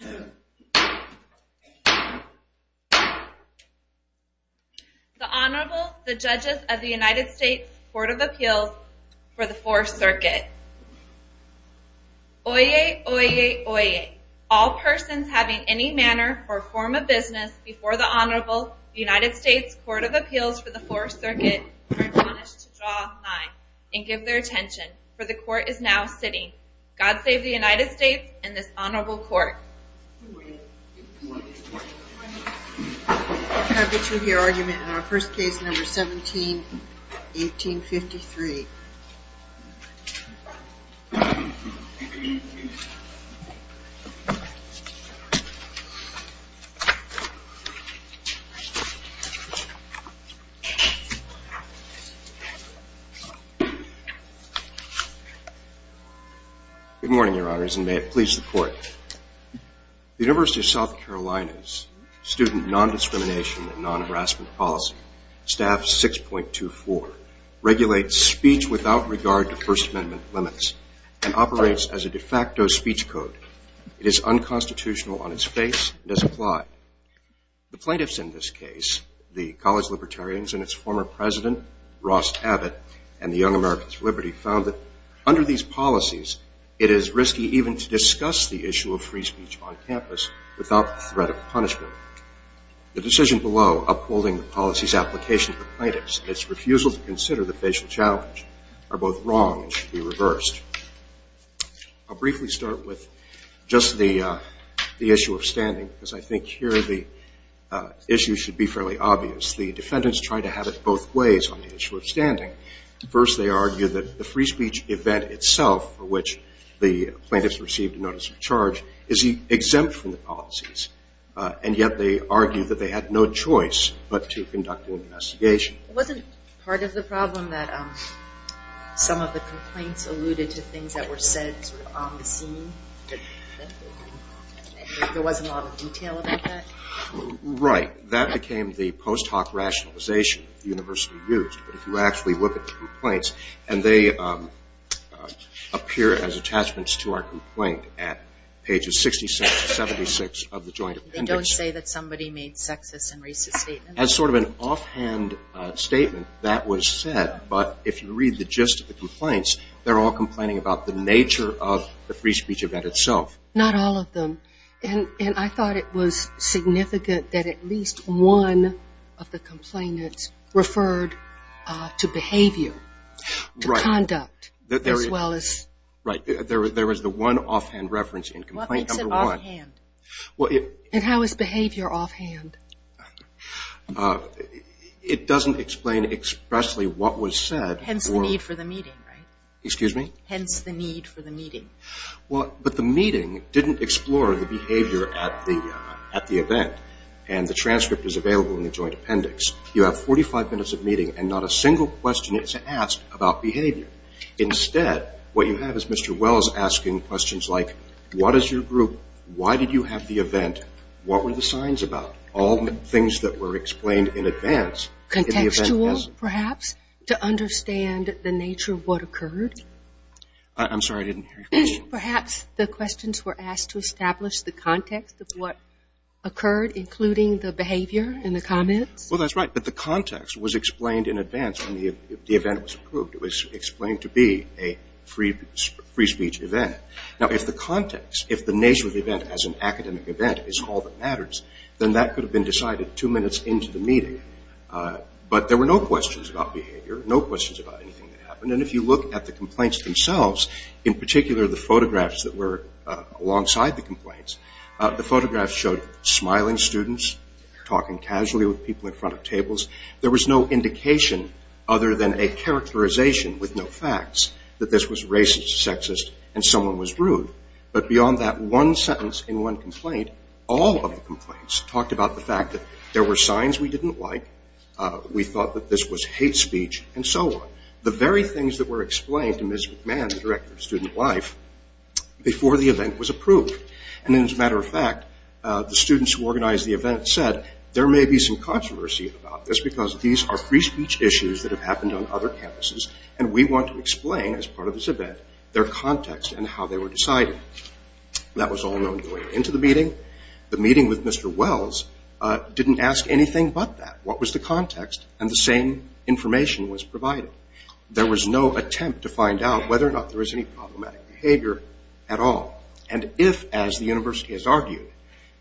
The Honorable, the Judges of the United States Court of Appeals for the Fourth Circuit. Oyez, oyez, oyez, all persons having any manner or form of business before the Honorable, the United States Court of Appeals for the Fourth Circuit are admonished to draw a line and give their attention, for the Court is now sitting. God save the United States and this Honorable Court. Good morning. Good morning. Good morning. Can I get you to hear argument on first case number 17, 1853? Good morning, Your Honors, and may it please the Court. The University of South Carolina's Student Non-Discrimination and Non-Harassment Policy, Staff 6.24, regulates speech without regard to First Amendment limits and operates as a de facto speech code. It is unconstitutional on its face and does not apply. The plaintiffs in this case, the college libertarians and its former president, Ross Abbott, and the Young Americans for Liberty, found that under these policies it is risky even to discuss the issue of free speech on campus without the threat of punishment. The decision below upholding the policy's application to the plaintiffs and its refusal to consider the facial challenge are both wrong and should be reversed. I'll briefly start with just the issue of standing because I think here the issue should be fairly obvious. The defendants tried to have it both ways on the issue of standing. First, they argued that the free speech event itself for which the plaintiffs received a notice of charge is exempt from the policies, and yet they argued that they had no choice but to conduct an investigation. Wasn't part of the problem that some of the complaints alluded to things that were said sort of on the scene? There wasn't a lot of detail about that? Right. That became the post hoc rationalization the University used. But if you actually look at the complaints, and they appear as attachments to our complaint at pages 66 to 76 of the joint appendix. They don't say that somebody made sexist and racist statements? As sort of an offhand statement, that was said, but if you read the gist of the complaints, they're all complaining about the nature of the free speech event itself. Not all of them. And I thought it was significant that at least one of the complainants referred to behavior, to conduct, as well as. Right. There was the one offhand reference in complaint number one. What makes it offhand? And how is behavior offhand? It doesn't explain expressly what was said. Hence the need for the meeting, right? Excuse me? Hence the need for the meeting. But the meeting didn't explore the behavior at the event. And the transcript is available in the joint appendix. You have 45 minutes of meeting, and not a single question is asked about behavior. Instead, what you have is Mr. Wells asking questions like, what is your group? Why did you have the event? What were the signs about? All the things that were explained in advance. Contextual, perhaps, to understand the nature of what occurred? I'm sorry, I didn't hear your question. Perhaps the questions were asked to establish the context of what occurred, including the behavior and the comments? Well, that's right. But the context was explained in advance when the event was approved. It was explained to be a free speech event. Now, if the context, if the nature of the event as an academic event is all that matters, then that could have been decided two minutes into the meeting. But there were no questions about behavior, no questions about anything that happened. And if you look at the complaints themselves, in particular the photographs that were alongside the complaints, the photographs showed smiling students talking casually with people in front of tables. There was no indication other than a characterization with no facts that this was racist, sexist, and someone was rude. But beyond that one sentence in one complaint, all of the complaints talked about the fact that there were signs we didn't like, we thought that this was hate speech, and so on. The very things that were explained to Ms. McMahon, the director of student life, before the event was approved. And as a matter of fact, the students who organized the event said, there may be some controversy about this because these are free speech issues that have happened on other campuses, and we want to explain as part of this event their context and how they were decided. That was all known going into the meeting. The meeting with Mr. Wells didn't ask anything but that. What was the context, and the same information was provided. There was no attempt to find out whether or not there was any problematic behavior at all. And if, as the university has argued,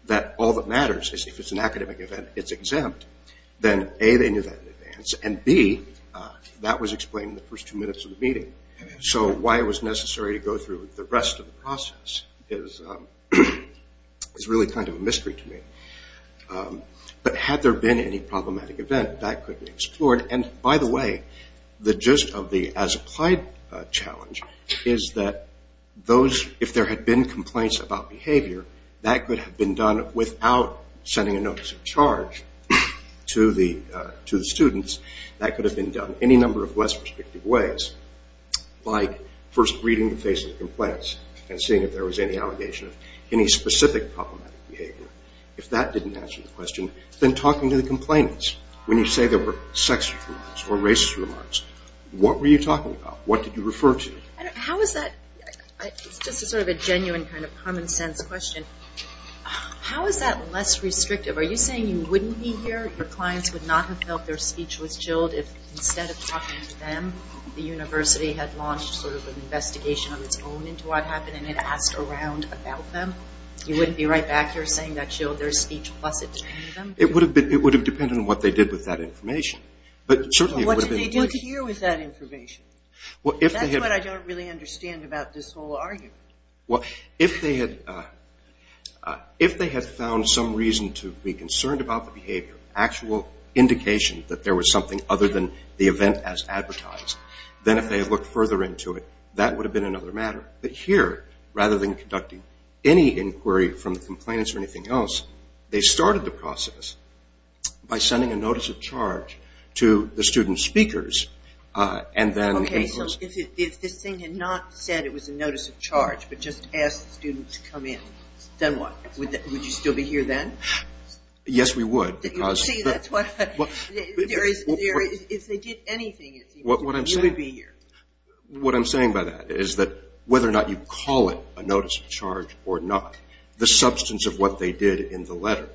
that all that matters is if it's an academic event, it's exempt, then A, they knew that in advance, and B, that was explained in the first two minutes of the meeting. So why it was necessary to go through the rest of the process is really kind of a mystery to me. But had there been any problematic event, that could be explored. And by the way, the gist of the as-applied challenge is that if there had been complaints about behavior, that could have been done without sending a notice of charge to the students. That could have been done any number of less restrictive ways, like first reading the face of the complaints and seeing if there was any allegation of any specific problematic behavior. If that didn't answer the question, then talking to the complainants. When you say there were sexual or racist remarks, what were you talking about? What did you refer to? How is that? It's just a sort of a genuine kind of common sense question. How is that less restrictive? Are you saying you wouldn't be here, your clients would not have felt their speech was chilled if instead of talking to them, the university had launched sort of an investigation on its own into what happened and had asked around about them? You wouldn't be right back here saying that chilled their speech plus it depended on them? It would have depended on what they did with that information. But certainly it would have been the case. What did they do to you with that information? That's what I don't really understand about this whole argument. Well, if they had found some reason to be concerned about the behavior, actual indication that there was something other than the event as advertised, then if they had looked further into it, that would have been another matter. But here, rather than conducting any inquiry from the complainants or anything else, they started the process by sending a notice of charge to the student speakers and then Okay, so if this thing had not said it was a notice of charge but just asked the students to come in, then what? Would you still be here then? Yes, we would because See, that's what, if they did anything, you would be here. What I'm saying by that is that whether or not you call it a notice of charge or not, the substance of what they did in the letter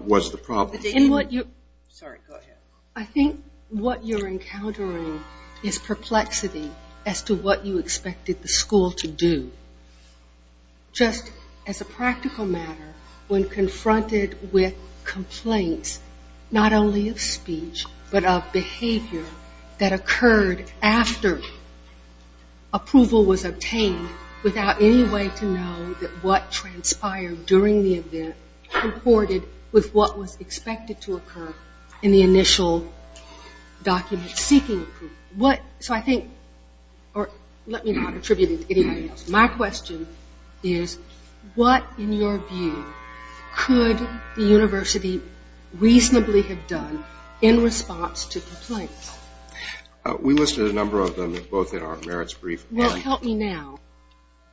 was the problem. In what you Sorry, go ahead. I think what you're encountering is perplexity as to what you expected the school to do. Just as a practical matter, when confronted with complaints not only of speech but of behavior that occurred after approval was obtained without any way to know that what transpired during the event comported with what was expected to occur in the initial document seeking. So I think, or let me not attribute it to anybody else. My question is what, in your view, could the university reasonably have done in response to complaints? We listed a number of them both in our merits brief. Well, help me now.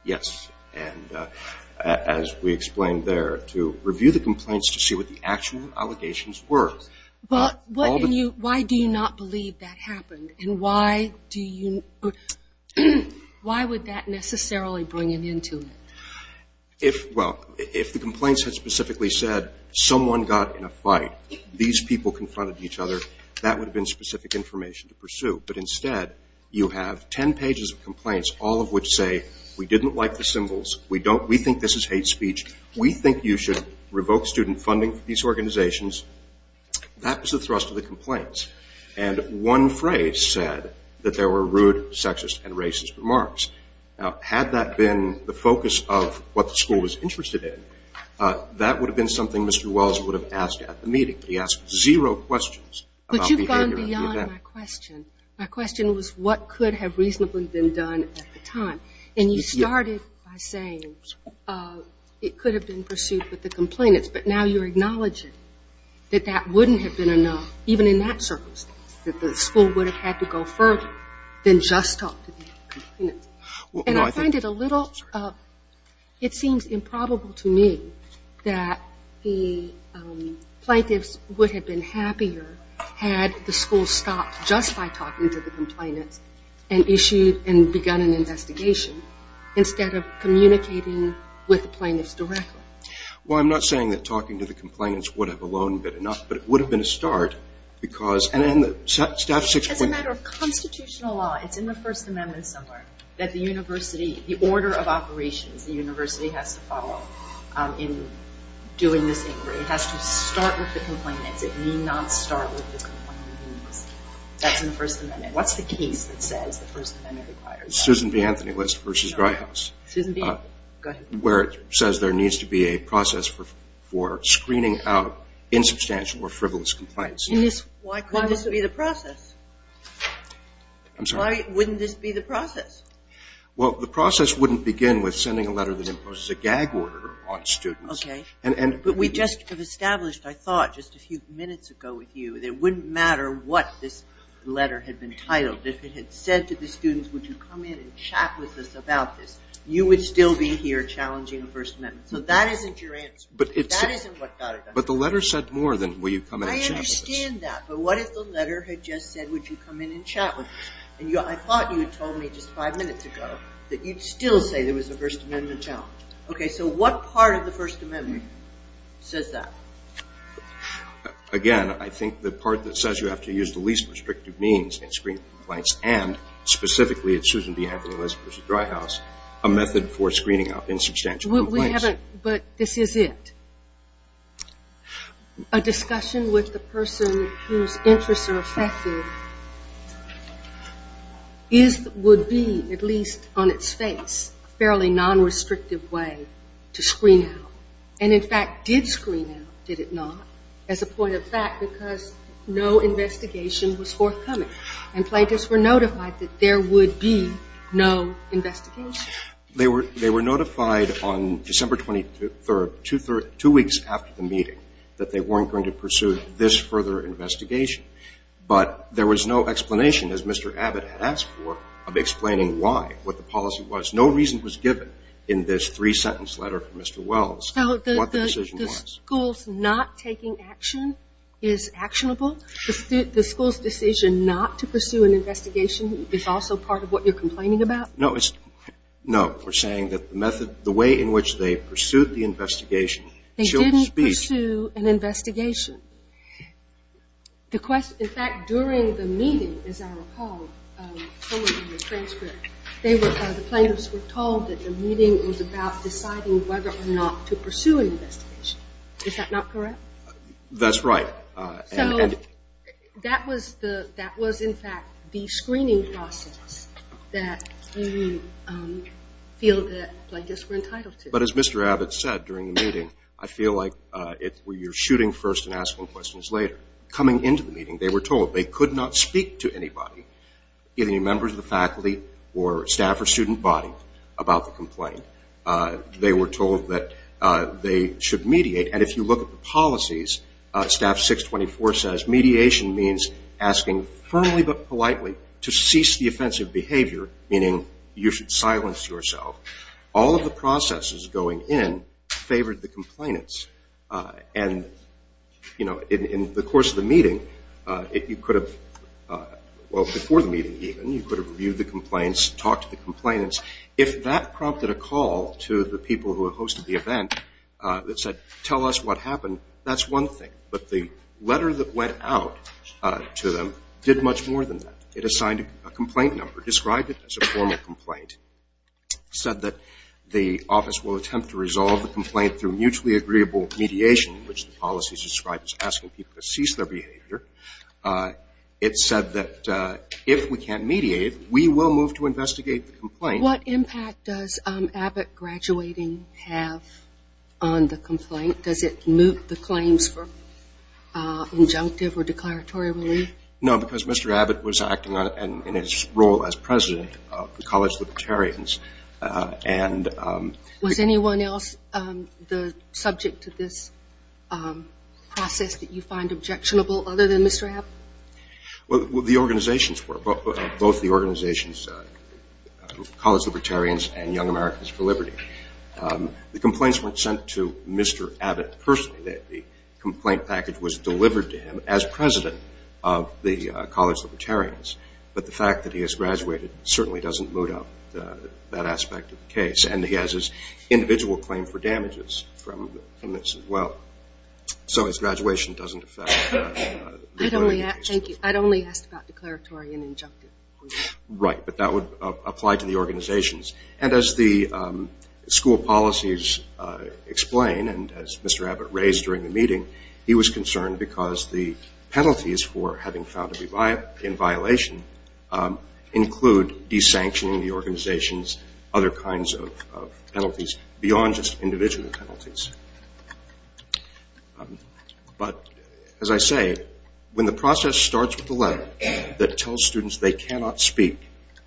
Yes, and as we explained there, to review the complaints to see what the actual allegations were. Why do you not believe that happened? And why would that necessarily bring it into it? Well, if the complaints had specifically said someone got in a fight, these people confronted each other, that would have been specific information to pursue. But instead, you have ten pages of complaints, all of which say we didn't like the symbols, we think this is hate speech, we think you should revoke student funding for these organizations. That was the thrust of the complaints. And one phrase said that there were rude, sexist, and racist remarks. Now, had that been the focus of what the school was interested in, that would have been something Mr. Wells would have asked at the meeting. He asked zero questions about behavior at the event. But you've gone beyond my question. My question was what could have reasonably been done at the time. And you started by saying it could have been pursued with the complainants, but now you're acknowledging that that wouldn't have been enough, even in that circumstance, that the school would have had to go further than just talk to the complainants. And I find it a little, it seems improbable to me that the plaintiffs would have been happier had the school stopped just by talking to the complainants and issued and begun an investigation instead of communicating with the plaintiffs directly. Well, I'm not saying that talking to the complainants would have alone been enough, but it would have been a start. As a matter of constitutional law, it's in the First Amendment somewhere that the university, the order of operations the university has to follow in doing this inquiry. It has to start with the complainants. It may not start with the complainants. That's in the First Amendment. What's the case that says the First Amendment requires that? Susan B. Anthony List v. Gryhaus. Susan B.? Go ahead. Where it says there needs to be a process for screening out insubstantial or frivolous complaints. Why couldn't this be the process? I'm sorry? Why wouldn't this be the process? Well, the process wouldn't begin with sending a letter that imposes a gag order on students. Okay. But we just have established, I thought just a few minutes ago with you, that it wouldn't matter what this letter had been titled. If it had said to the students, would you come in and chat with us about this, you would still be here challenging the First Amendment. So that isn't your answer. That isn't what got it done. But the letter said more than, will you come in and chat with us. I understand that. But what if the letter had just said, would you come in and chat with us? And I thought you had told me just five minutes ago that you'd still say there was a First Amendment challenge. Okay. So what part of the First Amendment says that? Again, I think the part that says you have to use the least restrictive means in screening complaints and specifically, it's Susan Bianco and Elizabeth Dryhouse, a method for screening out insubstantial complaints. But this is it. A discussion with the person whose interests are affected would be, at least on its face, a fairly non-restrictive way to screen out. And, in fact, did screen out, did it not, as a point of fact, because no investigation was forthcoming and plaintiffs were notified that there would be no investigation? They were notified on December 23rd, two weeks after the meeting, that they weren't going to pursue this further investigation. But there was no explanation, as Mr. Abbott had asked for, of explaining why, what the policy was. No reason was given in this three-sentence letter from Mr. Wells what the decision was. So the school's not taking action is actionable? The school's decision not to pursue an investigation is also part of what you're complaining about? No. We're saying that the method, the way in which they pursued the investigation, they didn't pursue an investigation. In fact, during the meeting, as I recall from the transcript, the plaintiffs were told that the meeting was about deciding whether or not to pursue an investigation. Is that not correct? That's right. So that was, in fact, the screening process that you feel that plaintiffs were entitled to. But as Mr. Abbott said during the meeting, I feel like you're shooting first and asking questions later. Coming into the meeting, they were told they could not speak to anybody, either members of the faculty or staff or student body, about the complaint. They were told that they should mediate. And if you look at the policies, Staff 624 says mediation means asking firmly but politely to cease the offensive behavior, meaning you should silence yourself. All of the processes going in favored the complainants. And, you know, in the course of the meeting, you could have, well, before the meeting even, you could have reviewed the complaints, talked to the complainants. If that prompted a call to the people who had hosted the event that said, tell us what happened, that's one thing. But the letter that went out to them did much more than that. It assigned a complaint number, described it as a formal complaint, said that the office will attempt to resolve the complaint through mutually agreeable mediation, which the policies describe as asking people to cease their behavior. It said that if we can't mediate, we will move to investigate the complaint. What impact does Abbott graduating have on the complaint? Does it move the claims for injunctive or declaratory relief? No, because Mr. Abbott was acting in his role as president of the College Libertarians. Was anyone else subject to this process that you find objectionable other than Mr. Abbott? Well, the organizations were, both the organizations, College Libertarians and Young Americans for Liberty. The complaints weren't sent to Mr. Abbott personally. The complaint package was delivered to him as president of the College Libertarians. But the fact that he has graduated certainly doesn't boot up that aspect of the case. And he has his individual claim for damages from this as well. So his graduation doesn't affect the claim. I'd only asked about declaratory and injunctive relief. Right, but that would apply to the organizations. And as the school policies explain, and as Mr. Abbott raised during the meeting, he was concerned because the penalties for having found to be in violation include desanctioning the organization's and other kinds of penalties beyond just individual penalties. But as I say, when the process starts with a letter that tells students they cannot speak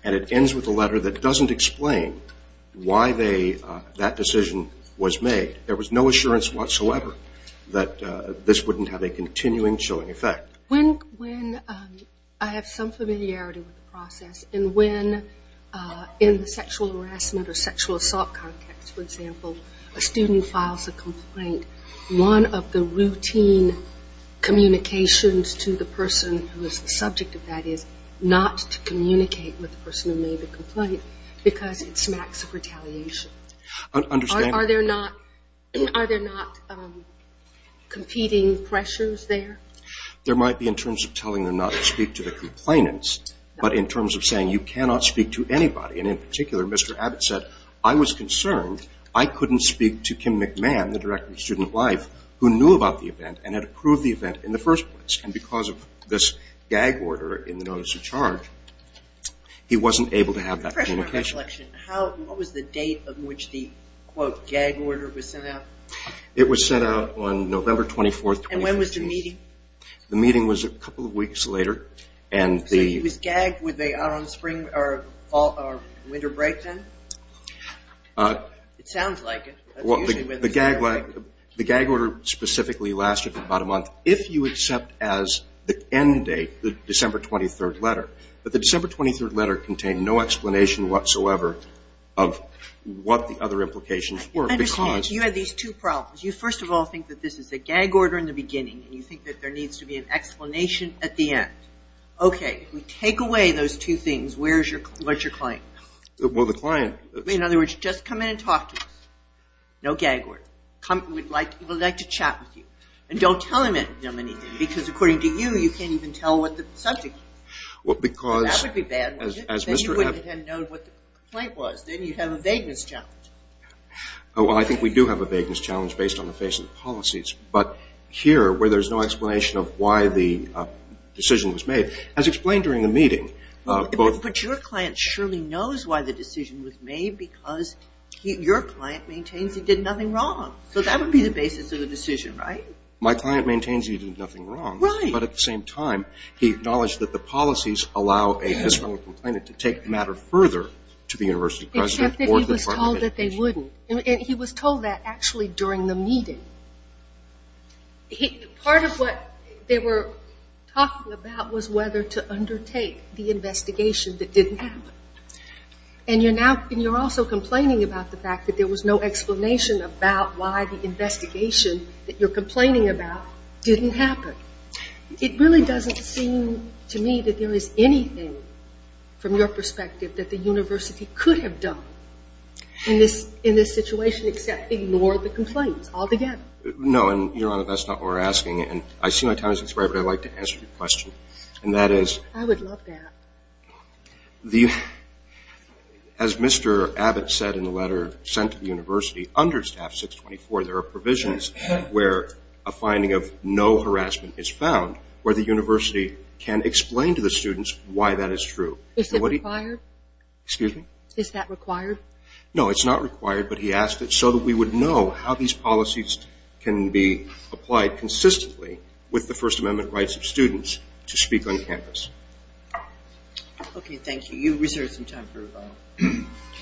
and it ends with a letter that doesn't explain why that decision was made, there was no assurance whatsoever that this wouldn't have a continuing chilling effect. When I have some familiarity with the process, and when in the sexual harassment or sexual assault context, for example, a student files a complaint, one of the routine communications to the person who is the subject of that is not to communicate with the person who made the complaint because it smacks of retaliation. Are there not competing pressures there? There might be in terms of telling them not to speak to the complainants, but in terms of saying you cannot speak to anybody. And in particular, Mr. Abbott said, I was concerned I couldn't speak to Kim McMahon, the director of student life, who knew about the event and had approved the event in the first place. And because of this gag order in the notice of charge, he wasn't able to have that communication. What was the date on which the, quote, gag order was sent out? It was sent out on November 24, 2015. And when was the meeting? The meeting was a couple of weeks later. So he was gagged with a winter break then? It sounds like it. The gag order specifically lasted about a month if you accept as the end date the December 23rd letter. But the December 23rd letter contained no explanation whatsoever of what the other implications were. I understand. You had these two problems. You, first of all, think that this is a gag order in the beginning, and you think that there needs to be an explanation at the end. Okay. We take away those two things. Where's your client? Well, the client. In other words, just come in and talk to us. No gag order. We'd like to chat with you. And don't tell him anything because, according to you, you can't even tell what the subject is. That would be bad, wouldn't it? Then you wouldn't have known what the complaint was. Then you'd have a vagueness challenge. Well, I think we do have a vagueness challenge based on the face of the policies. But here, where there's no explanation of why the decision was made, as explained during the meeting. But your client surely knows why the decision was made because your client maintains he did nothing wrong. So that would be the basis of the decision, right? My client maintains he did nothing wrong. Right. But at the same time, he acknowledged that the policies allow a misdemeanor complainant to take the matter further to the university president or to the Department of Education. Except that he was told that they wouldn't. And he was told that actually during the meeting. Part of what they were talking about was whether to undertake the investigation that didn't happen. And you're also complaining about the fact that there was no explanation about why the investigation that you're complaining about didn't happen. It really doesn't seem to me that there is anything, from your perspective, that the university could have done in this situation except ignore the complaints altogether. No, and, Your Honor, that's not what we're asking. And I see my time has expired, but I'd like to answer your question. And that is. I would love that. As Mr. Abbott said in the letter sent to the university, under Staff 624, there are provisions where a finding of no harassment is found, where the university can explain to the students why that is true. Is that required? Excuse me? Is that required? No, it's not required, but he asked it so that we would know how these policies can be applied consistently with the First Amendment rights of students to speak on campus. Okay, thank you. You've reserved some time for rebuttal.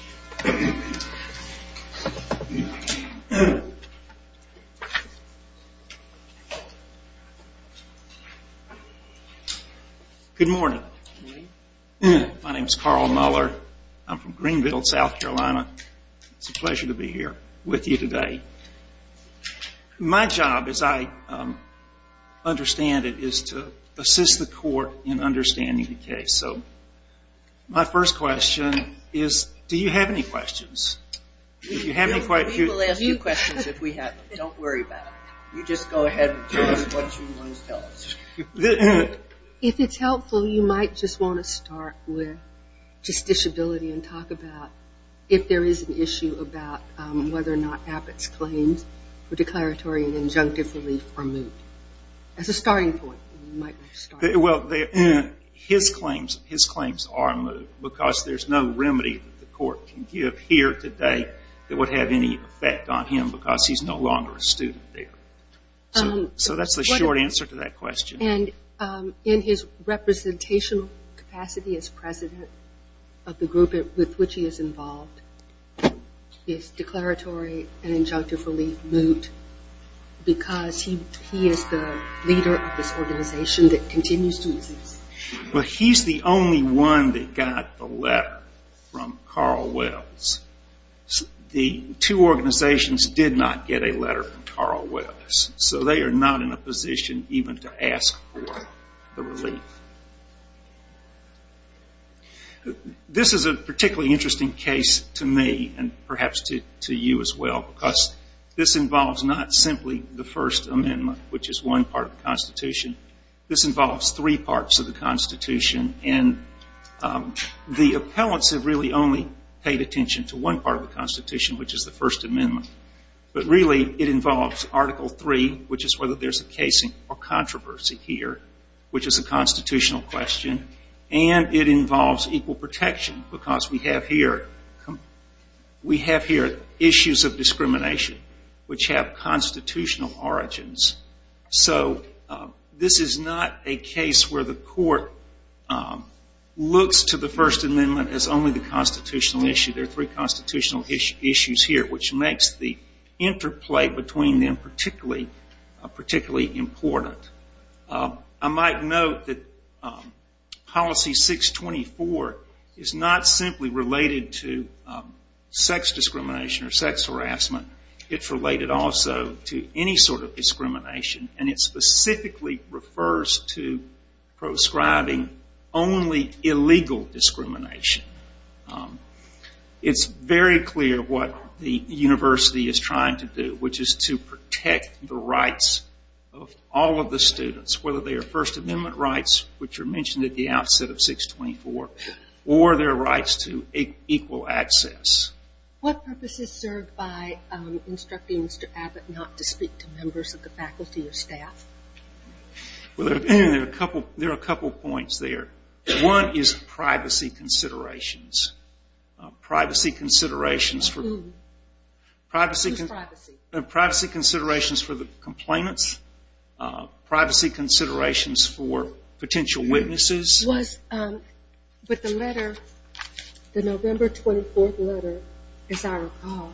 Good morning. My name is Carl Muller. I'm from Greenville, South Carolina. It's a pleasure to be here with you today. My job, as I understand it, is to assist the court in understanding the case. So my first question is, do you have any questions? We will ask you questions if we have them. Don't worry about it. You just go ahead and tell us what you want to tell us. If it's helpful, you might just want to start with justiciability and talk about if there is an issue about whether or not Abbott's claims for declaratory and injunctive relief are moot. As a starting point. Well, his claims are moot because there's no remedy that the court can give here today that would have any effect on him because he's no longer a student there. So that's the short answer to that question. And in his representational capacity as president of the group with which he is involved, is declaratory and injunctive relief moot because he is the leader of this organization that continues to exist? Well, he's the only one that got the letter from Carl Wells. The two organizations did not get a letter from Carl Wells. So they are not in a position even to ask for the relief. This is a particularly interesting case to me and perhaps to you as well because this involves not simply the First Amendment, which is one part of the Constitution. This involves three parts of the Constitution. And the appellants have really only paid attention to one part of the Constitution, which is the First Amendment. But really it involves Article III, which is whether there's a case or controversy here, which is a constitutional question. And it involves equal protection because we have here issues of discrimination, which have constitutional origins. So this is not a case where the court looks to the First Amendment as only the constitutional issue. There are three constitutional issues here, which makes the interplay between them particularly important. I might note that Policy 624 is not simply related to sex discrimination or sex harassment. It's related also to any sort of discrimination, and it specifically refers to proscribing only illegal discrimination. It's very clear what the university is trying to do, which is to protect the rights of all of the students, whether they are First Amendment rights, which are mentioned at the outset of 624, or their rights to equal access. What purpose is served by instructing Mr. Abbott not to speak to members of the faculty or staff? Well, there are a couple points there. One is privacy considerations, privacy considerations for the complainants, privacy considerations for potential witnesses. But the letter, the November 24th letter, as I recall,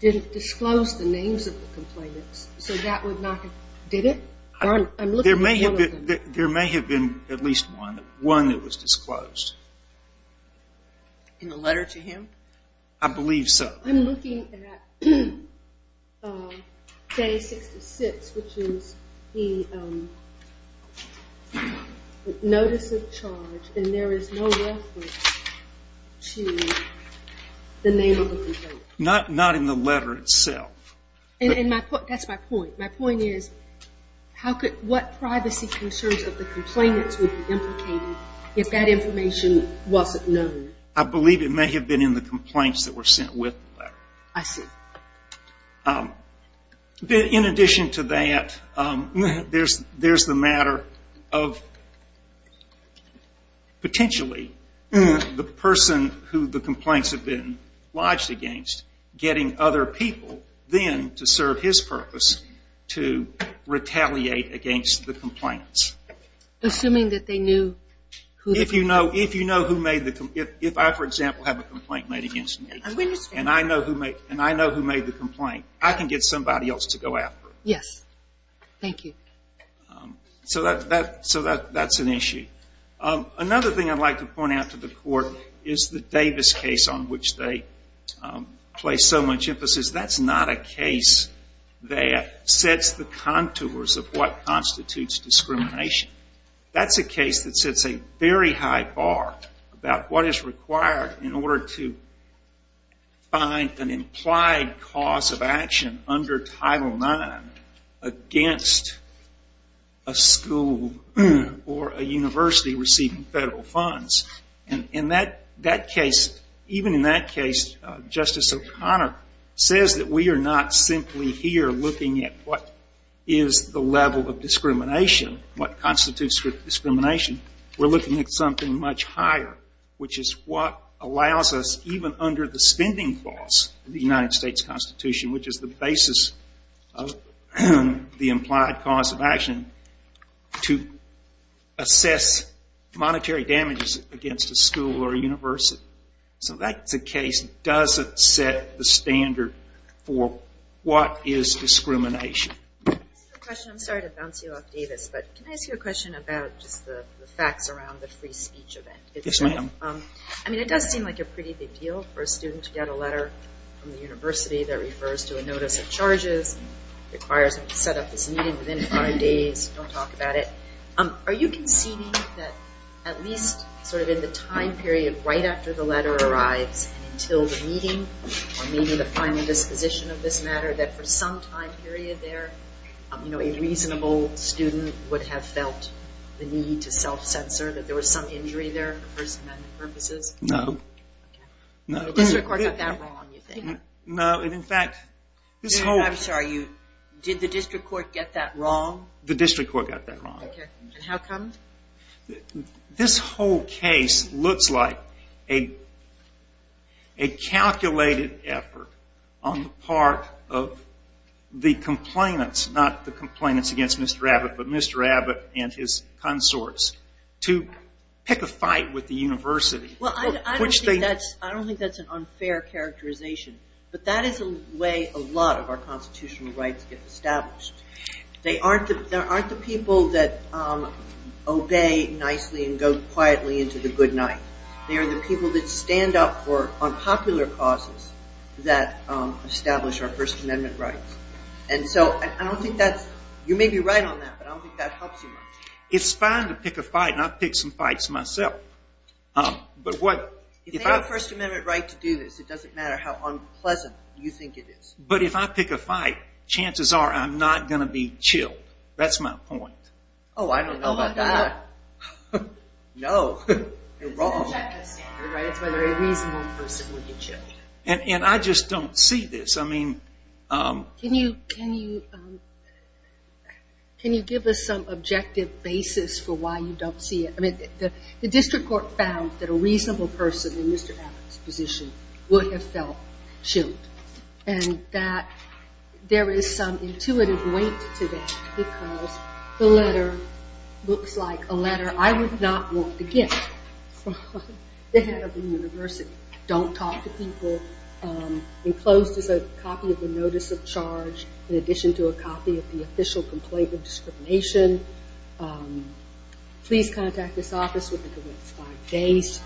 didn't disclose the names of the complainants. So that would not have – did it? There may have been at least one, one that was disclosed. In the letter to him? I believe so. I'm looking at day 66, which is the notice of charge, and there is no reference to the name of the complainant. Not in the letter itself. That's my point. My point is, what privacy concerns of the complainants would be implicated if that information wasn't known? I believe it may have been in the complaints that were sent with the letter. I see. In addition to that, there's the matter of potentially the person who the complaints have been lodged against getting other people then to serve his purpose to retaliate against the complainants. Assuming that they knew who – If you know who made the – if I, for example, have a complaint made against me, and I know who made the complaint, I can get somebody else to go after it. Yes. Thank you. So that's an issue. Another thing I'd like to point out to the court is the Davis case on which they place so much emphasis. That's not a case that sets the contours of what constitutes discrimination. That's a case that sets a very high bar about what is required in order to find an implied cause of action under Title IX against a school or a university receiving federal funds. In that case, even in that case, Justice O'Connor says that we are not simply here looking at what is the level of discrimination, what constitutes discrimination. We're looking at something much higher, which is what allows us, even under the spending clause of the United States Constitution, which is the basis of the implied cause of action, to assess monetary damages against a school or a university. So that's a case that doesn't set the standard for what is discrimination. I have a question. I'm sorry to bounce you off Davis, but can I ask you a question about just the facts around the free speech event? Yes, ma'am. I mean, it does seem like a pretty big deal for a student to get a letter from the university that refers to a notice of charges, requires them to set up this meeting within five days, don't talk about it. Are you conceding that at least sort of in the time period right after the letter arrives and until the meeting or maybe the final disposition of this matter, that for some time period there, you know, a reasonable student would have felt the need to self-censor, that there was some injury there for First Amendment purposes? No. The district court got that wrong, you think? No. In fact, this whole... I'm sorry. Did the district court get that wrong? The district court got that wrong. And how come? This whole case looks like a calculated effort on the part of the complainants, not the complainants against Mr. Abbott, but Mr. Abbott and his consorts, to pick a fight with the university. Well, I don't think that's an unfair characterization, but that is the way a lot of our constitutional rights get established. There aren't the people that obey nicely and go quietly into the good night. They are the people that stand up on popular causes that establish our First Amendment rights. And so I don't think that's... You may be right on that, but I don't think that helps you much. It's fine to pick a fight, and I've picked some fights myself. But what... If they have a First Amendment right to do this, it doesn't matter how unpleasant you think it is. But if I pick a fight, chances are I'm not going to be chilled. That's my point. Oh, I don't know about that. No. You're wrong. It's a reasonable person when you're chilled. And I just don't see this. I mean... Can you give us some objective basis for why you don't see it? I mean, the district court found that a reasonable person in Mr. Abbott's position would have felt chilled, and that there is some intuitive weight to that because the letter looks like a letter I would not want to get from the head of the university. Don't talk to people. Enclosed is a copy of the notice of charge Please contact this office within the next five days.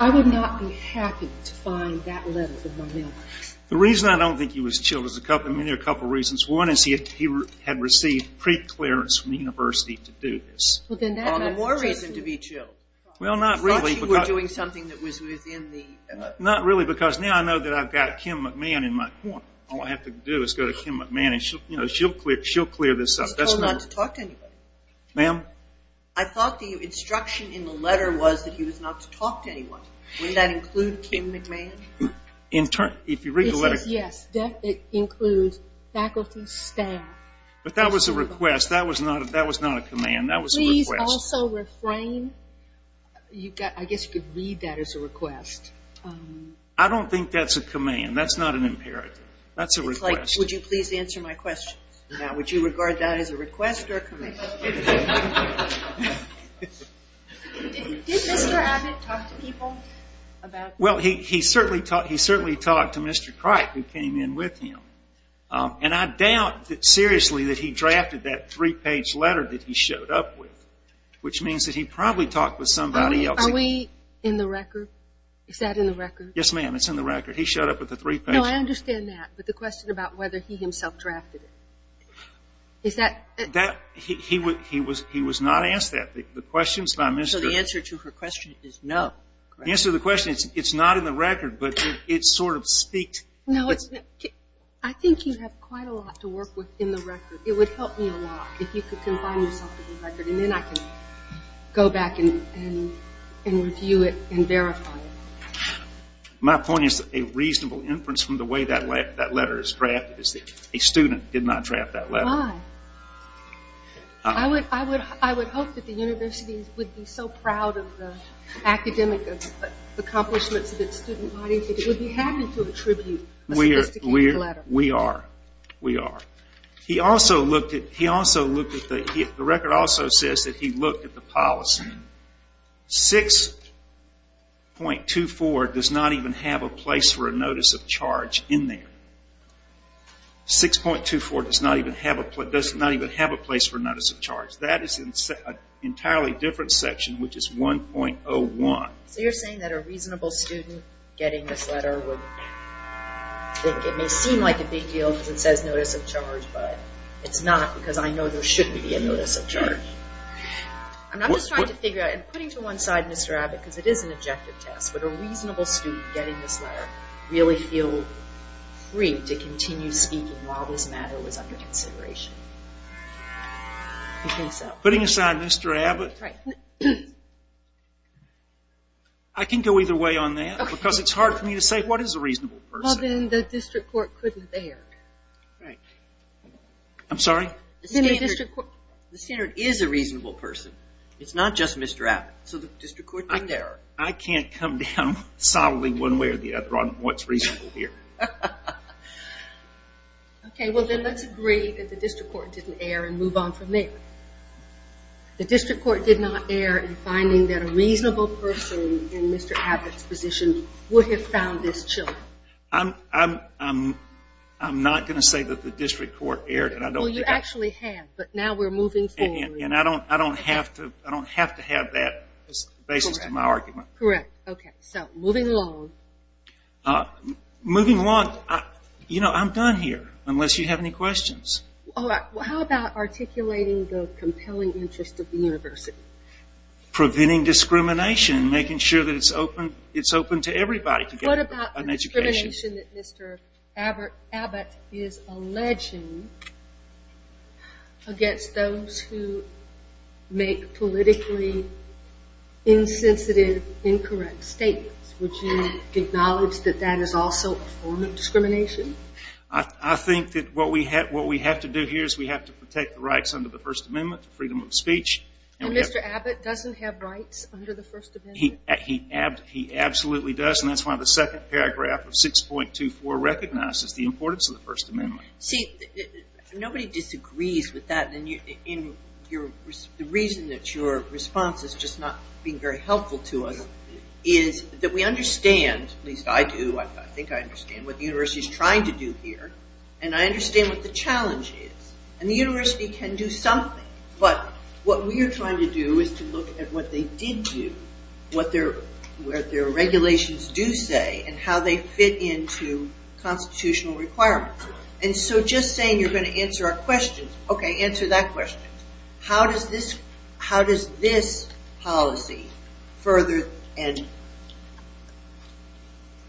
I would not be happy to find that letter in my mailbox. The reason I don't think he was chilled is a couple of reasons. One is he had received preclearance from the university to do this. Well, then that's a more reason to be chilled. Well, not really. I thought you were doing something that was within the... Not really, because now I know that I've got Kim McMahon in my corner. All I have to do is go to Kim McMahon, and she'll clear this up. He was told not to talk to anybody. Ma'am? I thought the instruction in the letter was that he was not to talk to anyone. Wouldn't that include Kim McMahon? If you read the letter... Yes, it includes faculty, staff... But that was a request. That was not a command. That was a request. Please also refrain... I guess you could read that as a request. Would you please answer my question? Would you regard that as a request or a command? Did Mr. Abbott talk to people about... Well, he certainly talked to Mr. Crike, who came in with him. And I doubt, seriously, that he drafted that three-page letter that he showed up with, which means that he probably talked with somebody else. Are we in the record? Is that in the record? Yes, ma'am, it's in the record. He showed up with a three-page letter. No, I understand that, but the question about whether he himself drafted it, is that... He was not asked that. So the answer to her question is no. The answer to the question is it's not in the record, but it sort of speaks... No, I think you have quite a lot to work with in the record. It would help me a lot if you could confine yourself to the record, and then I can go back and review it and verify it. My point is that a reasonable inference from the way that letter is drafted is that a student did not draft that letter. Why? I would hope that the university would be so proud of the academic accomplishments of its student body that it would be happy to attribute a sophisticated letter. We are. We are. He also looked at the... The record also says that he looked at the policy. 6.24 does not even have a place for a notice of charge in there. 6.24 does not even have a place for a notice of charge. That is an entirely different section, which is 1.01. So you're saying that a reasonable student getting this letter would think... It may seem like a big deal because it says notice of charge, but it's not because I know there should be a notice of charge. I'm just trying to figure out... Putting to one side Mr. Abbott, because it is an objective test, would a reasonable student getting this letter really feel free to continue speaking while this matter was under consideration? Putting aside Mr. Abbott, I can go either way on that because it's hard for me to say what is a reasonable person. Well, then the district court couldn't bear. I'm sorry? The standard is a reasonable person. It's not just Mr. Abbott. So the district court didn't bear. I can't come down solidly one way or the other on what's reasonable here. Okay, well then let's agree that the district court didn't err and move on from there. The district court did not err in finding that a reasonable person in Mr. Abbott's position would have found this children. I'm not going to say that the district court erred. Well, you actually have, but now we're moving forward. And I don't have to have that as the basis of my argument. Correct. Okay, so moving along. Moving along, you know, I'm done here unless you have any questions. How about articulating the compelling interest of the university? Preventing discrimination, making sure that it's open to everybody to get an education. Discrimination that Mr. Abbott is alleging against those who make politically insensitive, incorrect statements. Would you acknowledge that that is also a form of discrimination? I think that what we have to do here is we have to protect the rights under the First Amendment to freedom of speech. And Mr. Abbott doesn't have rights under the First Amendment? He absolutely does, and that's why the second paragraph of 6.24 recognizes the importance of the First Amendment. See, nobody disagrees with that. And the reason that your response is just not being very helpful to us is that we understand, at least I do, I think I understand, what the university is trying to do here. And I understand what the challenge is. And the university can do something, but what we are trying to do is to look at what they did do, what their regulations do say, and how they fit into constitutional requirements. And so just saying you're going to answer our questions, okay, answer that question. How does this policy further and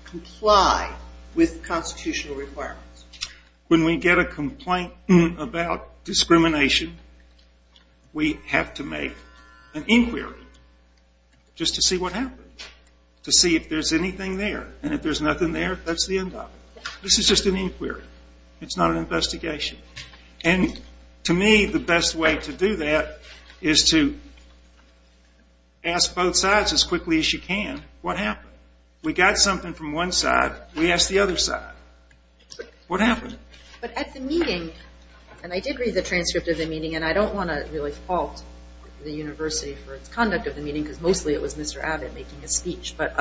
comply with constitutional requirements? When we get a complaint about discrimination, we have to make an inquiry just to see what happened, to see if there's anything there. And if there's nothing there, that's the end of it. This is just an inquiry. It's not an investigation. And to me, the best way to do that is to ask both sides as quickly as you can, what happened? We got something from one side. We asked the other side. What happened? But at the meeting, and I did read the transcript of the meeting, and I don't want to really fault the university for its conduct of the meeting because mostly it was Mr. Abbott making his speech, but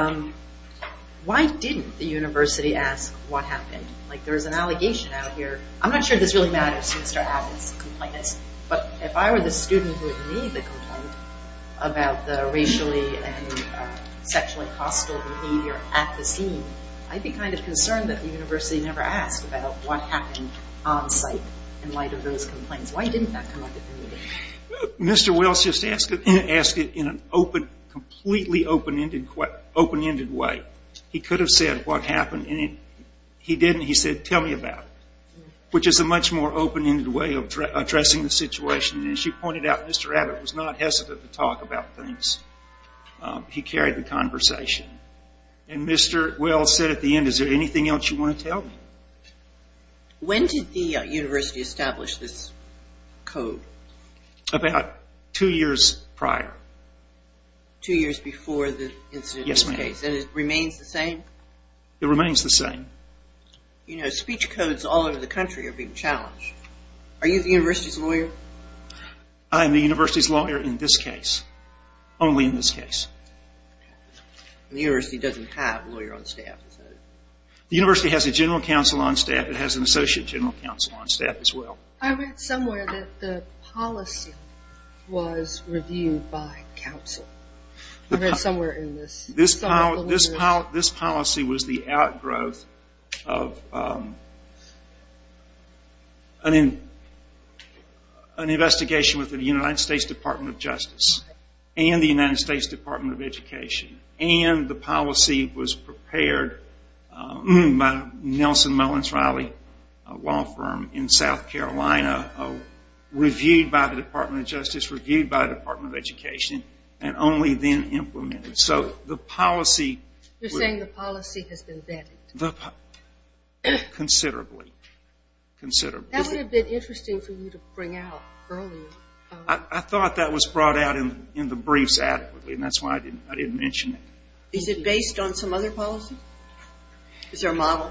why didn't the university ask what happened? Like there's an allegation out here. I'm not sure this really matters to Mr. Abbott's complainants, but if I were the student who had made the complaint about the racially and sexually hostile behavior at the scene, I'd be kind of concerned that the university never asked about what happened on site in light of those complaints. Why didn't that come up at the meeting? Mr. Wells just asked it in an open, completely open-ended way. He could have said what happened, and he didn't. He said, tell me about it, which is a much more open-ended way of addressing the situation. And she pointed out Mr. Abbott was not hesitant to talk about things. He carried the conversation. And Mr. Wells said at the end, is there anything else you want to tell me? When did the university establish this code? About two years prior. Two years before the incident? Yes, ma'am. And it remains the same? It remains the same. You know, speech codes all over the country are being challenged. Are you the university's lawyer? I'm the university's lawyer in this case, only in this case. The university doesn't have a lawyer on staff, does it? The university has a general counsel on staff. It has an associate general counsel on staff as well. I read somewhere that the policy was reviewed by counsel. I read somewhere in this. This policy was the outgrowth of an investigation with the United States Department of Justice and the United States Department of Education. And the policy was prepared by Nelson Mullins Riley, a law firm in South Carolina, reviewed by the Department of Justice, reviewed by the Department of Education, and only then implemented. So the policy. You're saying the policy has been vetted? Considerably, considerably. That would have been interesting for you to bring out earlier. I thought that was brought out in the briefs adequately, and that's why I didn't mention it. Is it based on some other policy? Is there a model?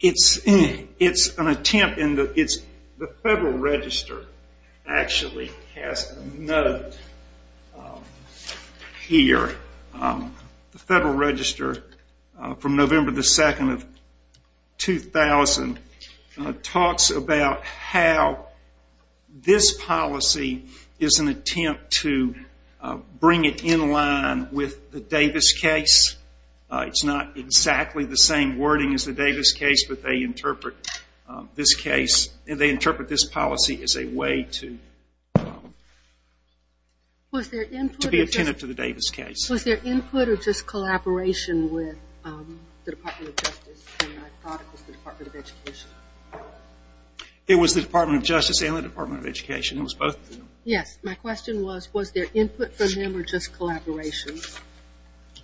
It's an attempt. The Federal Register actually has a note here. The Federal Register, from November 2nd of 2000, talks about how this policy is an attempt to bring it in line with the Davis case. It's not exactly the same wording as the Davis case, but they interpret this policy as a way to be attentive to the Davis case. Was there input or just collaboration with the Department of Justice and the Department of Education? It was the Department of Justice and the Department of Education. It was both of them. Yes. My question was, was there input from them or just collaboration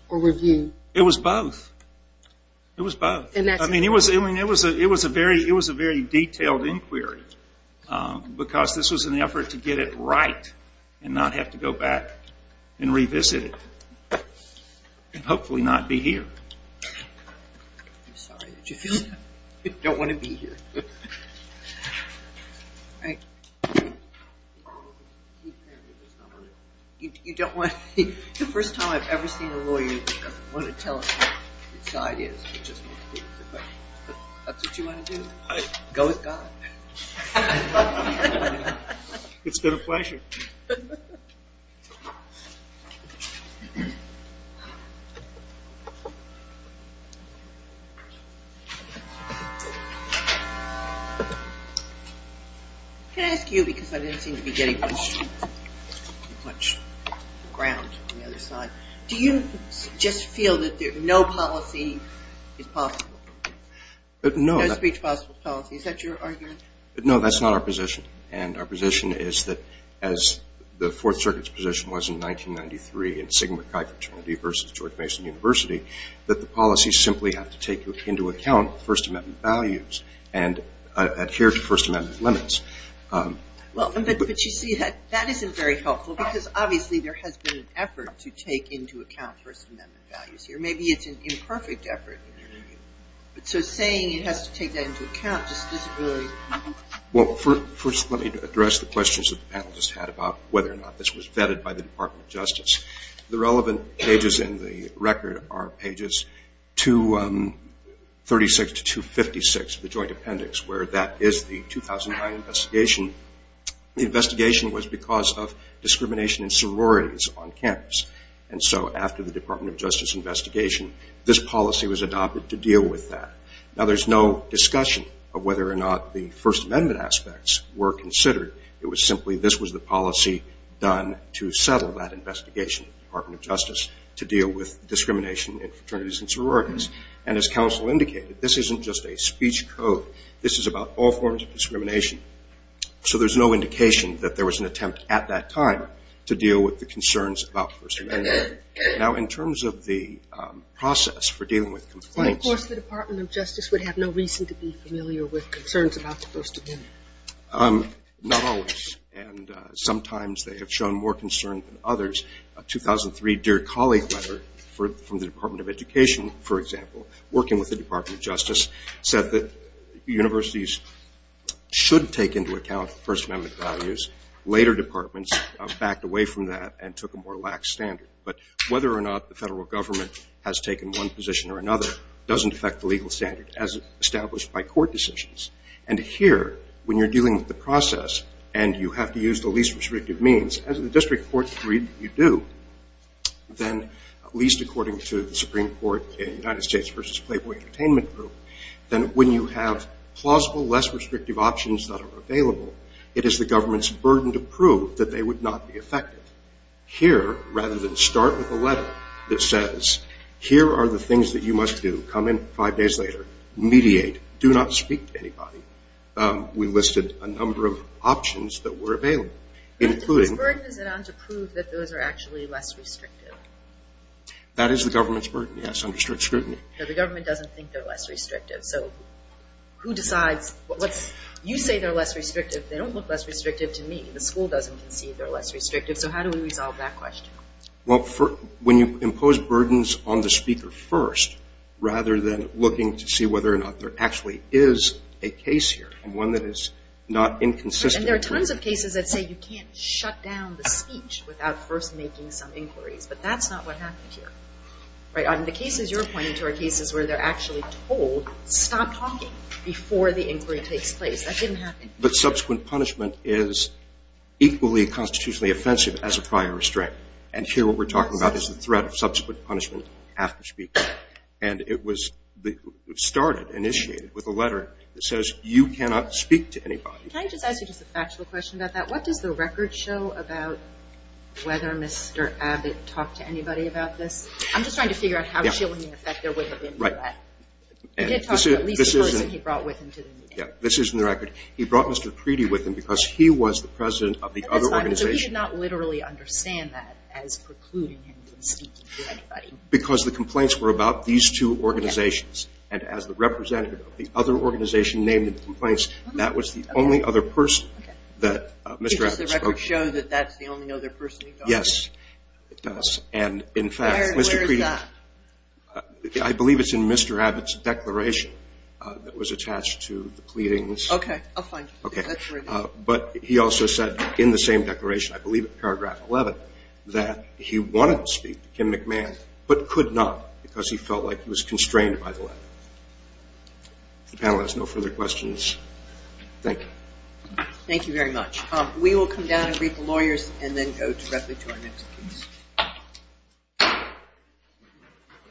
or review? It was both. It was both. It was a very detailed inquiry because this was an effort to get it right and not have to go back and revisit it and hopefully not be here. I'm sorry. Did you feel that? You don't want to be here. The first time I've ever seen a lawyer that doesn't want to tell us what his side is. That's what you want to do? Go with God? It's been a pleasure. Can I ask you, because I didn't seem to be getting much ground on the other side, do you just feel that no policy is possible? No. Is that your argument? No, that's not our position. And our position is that as the Fourth Circuit's position was in 1993 in Sigma Chi fraternity versus George Mason University, that the policies simply have to take into account First Amendment values and adhere to First Amendment limits. But you see, that isn't very helpful because obviously there has been an effort to take into account First Amendment values here. Maybe it's an imperfect effort. So saying it has to take that into account just doesn't really... Well, first let me address the questions that the panel just had about whether or not this was vetted by the Department of Justice. The relevant pages in the record are pages 236 to 256 of the joint appendix, where that is the 2009 investigation. The investigation was because of discrimination in sororities on campus. And so after the Department of Justice investigation, this policy was adopted to deal with that. Now, there's no discussion of whether or not the First Amendment aspects were considered. It was simply this was the policy done to settle that investigation in the Department of Justice to deal with discrimination in fraternities and sororities. And as counsel indicated, this isn't just a speech code. This is about all forms of discrimination. So there's no indication that there was an attempt at that time to deal with the concerns about the First Amendment. Now, in terms of the process for dealing with complaints... Of course, the Department of Justice would have no reason to be familiar with concerns about the First Amendment. Not always, and sometimes they have shown more concern than others. A 2003 Dear Colleague letter from the Department of Education, for example, working with the Department of Justice, said that universities should take into account First Amendment values. Later departments backed away from that and took a more lax standard. But whether or not the federal government has taken one position or another doesn't affect the legal standard as established by court decisions. And here, when you're dealing with the process and you have to use the least restrictive means, as in the district court you do, then at least according to the Supreme Court United States v. Playboy Entertainment Group, then when you have plausible, less restrictive options that are available, it is the government's burden to prove that they would not be effective. Here, rather than start with a letter that says, here are the things that you must do, come in five days later, mediate, do not speak to anybody, we listed a number of options that were available, including... But if it's a burden, is it not to prove that those are actually less restrictive? That is the government's burden, yes, under strict scrutiny. So the government doesn't think they're less restrictive. So who decides? You say they're less restrictive. They don't look less restrictive to me. The school doesn't concede they're less restrictive. So how do we resolve that question? Well, when you impose burdens on the speaker first, rather than looking to see whether or not there actually is a case here and one that is not inconsistent... And there are tons of cases that say you can't shut down the speech without first making some inquiries. But that's not what happened here. The cases you're pointing to are cases where they're actually told, stop talking before the inquiry takes place. That didn't happen. But subsequent punishment is equally constitutionally offensive as a prior restraint. And here what we're talking about is the threat of subsequent punishment after speaking. And it was started, initiated, with a letter that says you cannot speak to anybody. Can I just ask you just a factual question about that? What does the record show about whether Mr. Abbott talked to anybody about this? I'm just trying to figure out how, in effect, there would have been threat. He did talk to at least the person he brought with him to the meeting. Yeah, this is in the record. He brought Mr. Creedy with him because he was the president of the other organization. So he did not literally understand that as precluding him from speaking to anybody. Because the complaints were about these two organizations. And as the representative of the other organization named in the complaints, that was the only other person that Mr. Abbott spoke to. Does the record show that that's the only other person he talked to? Yes, it does. And, in fact, Mr. Creedy – Where is that? I believe it's in Mr. Abbott's declaration that was attached to the pleadings. Okay, I'll find it. Okay. But he also said in the same declaration, I believe in paragraph 11, that he wanted to speak to Kim McMahon, but could not because he felt like he was constrained by the letter. If the panel has no further questions, thank you. Thank you very much. We will come down and greet the lawyers and then go directly to our next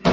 piece.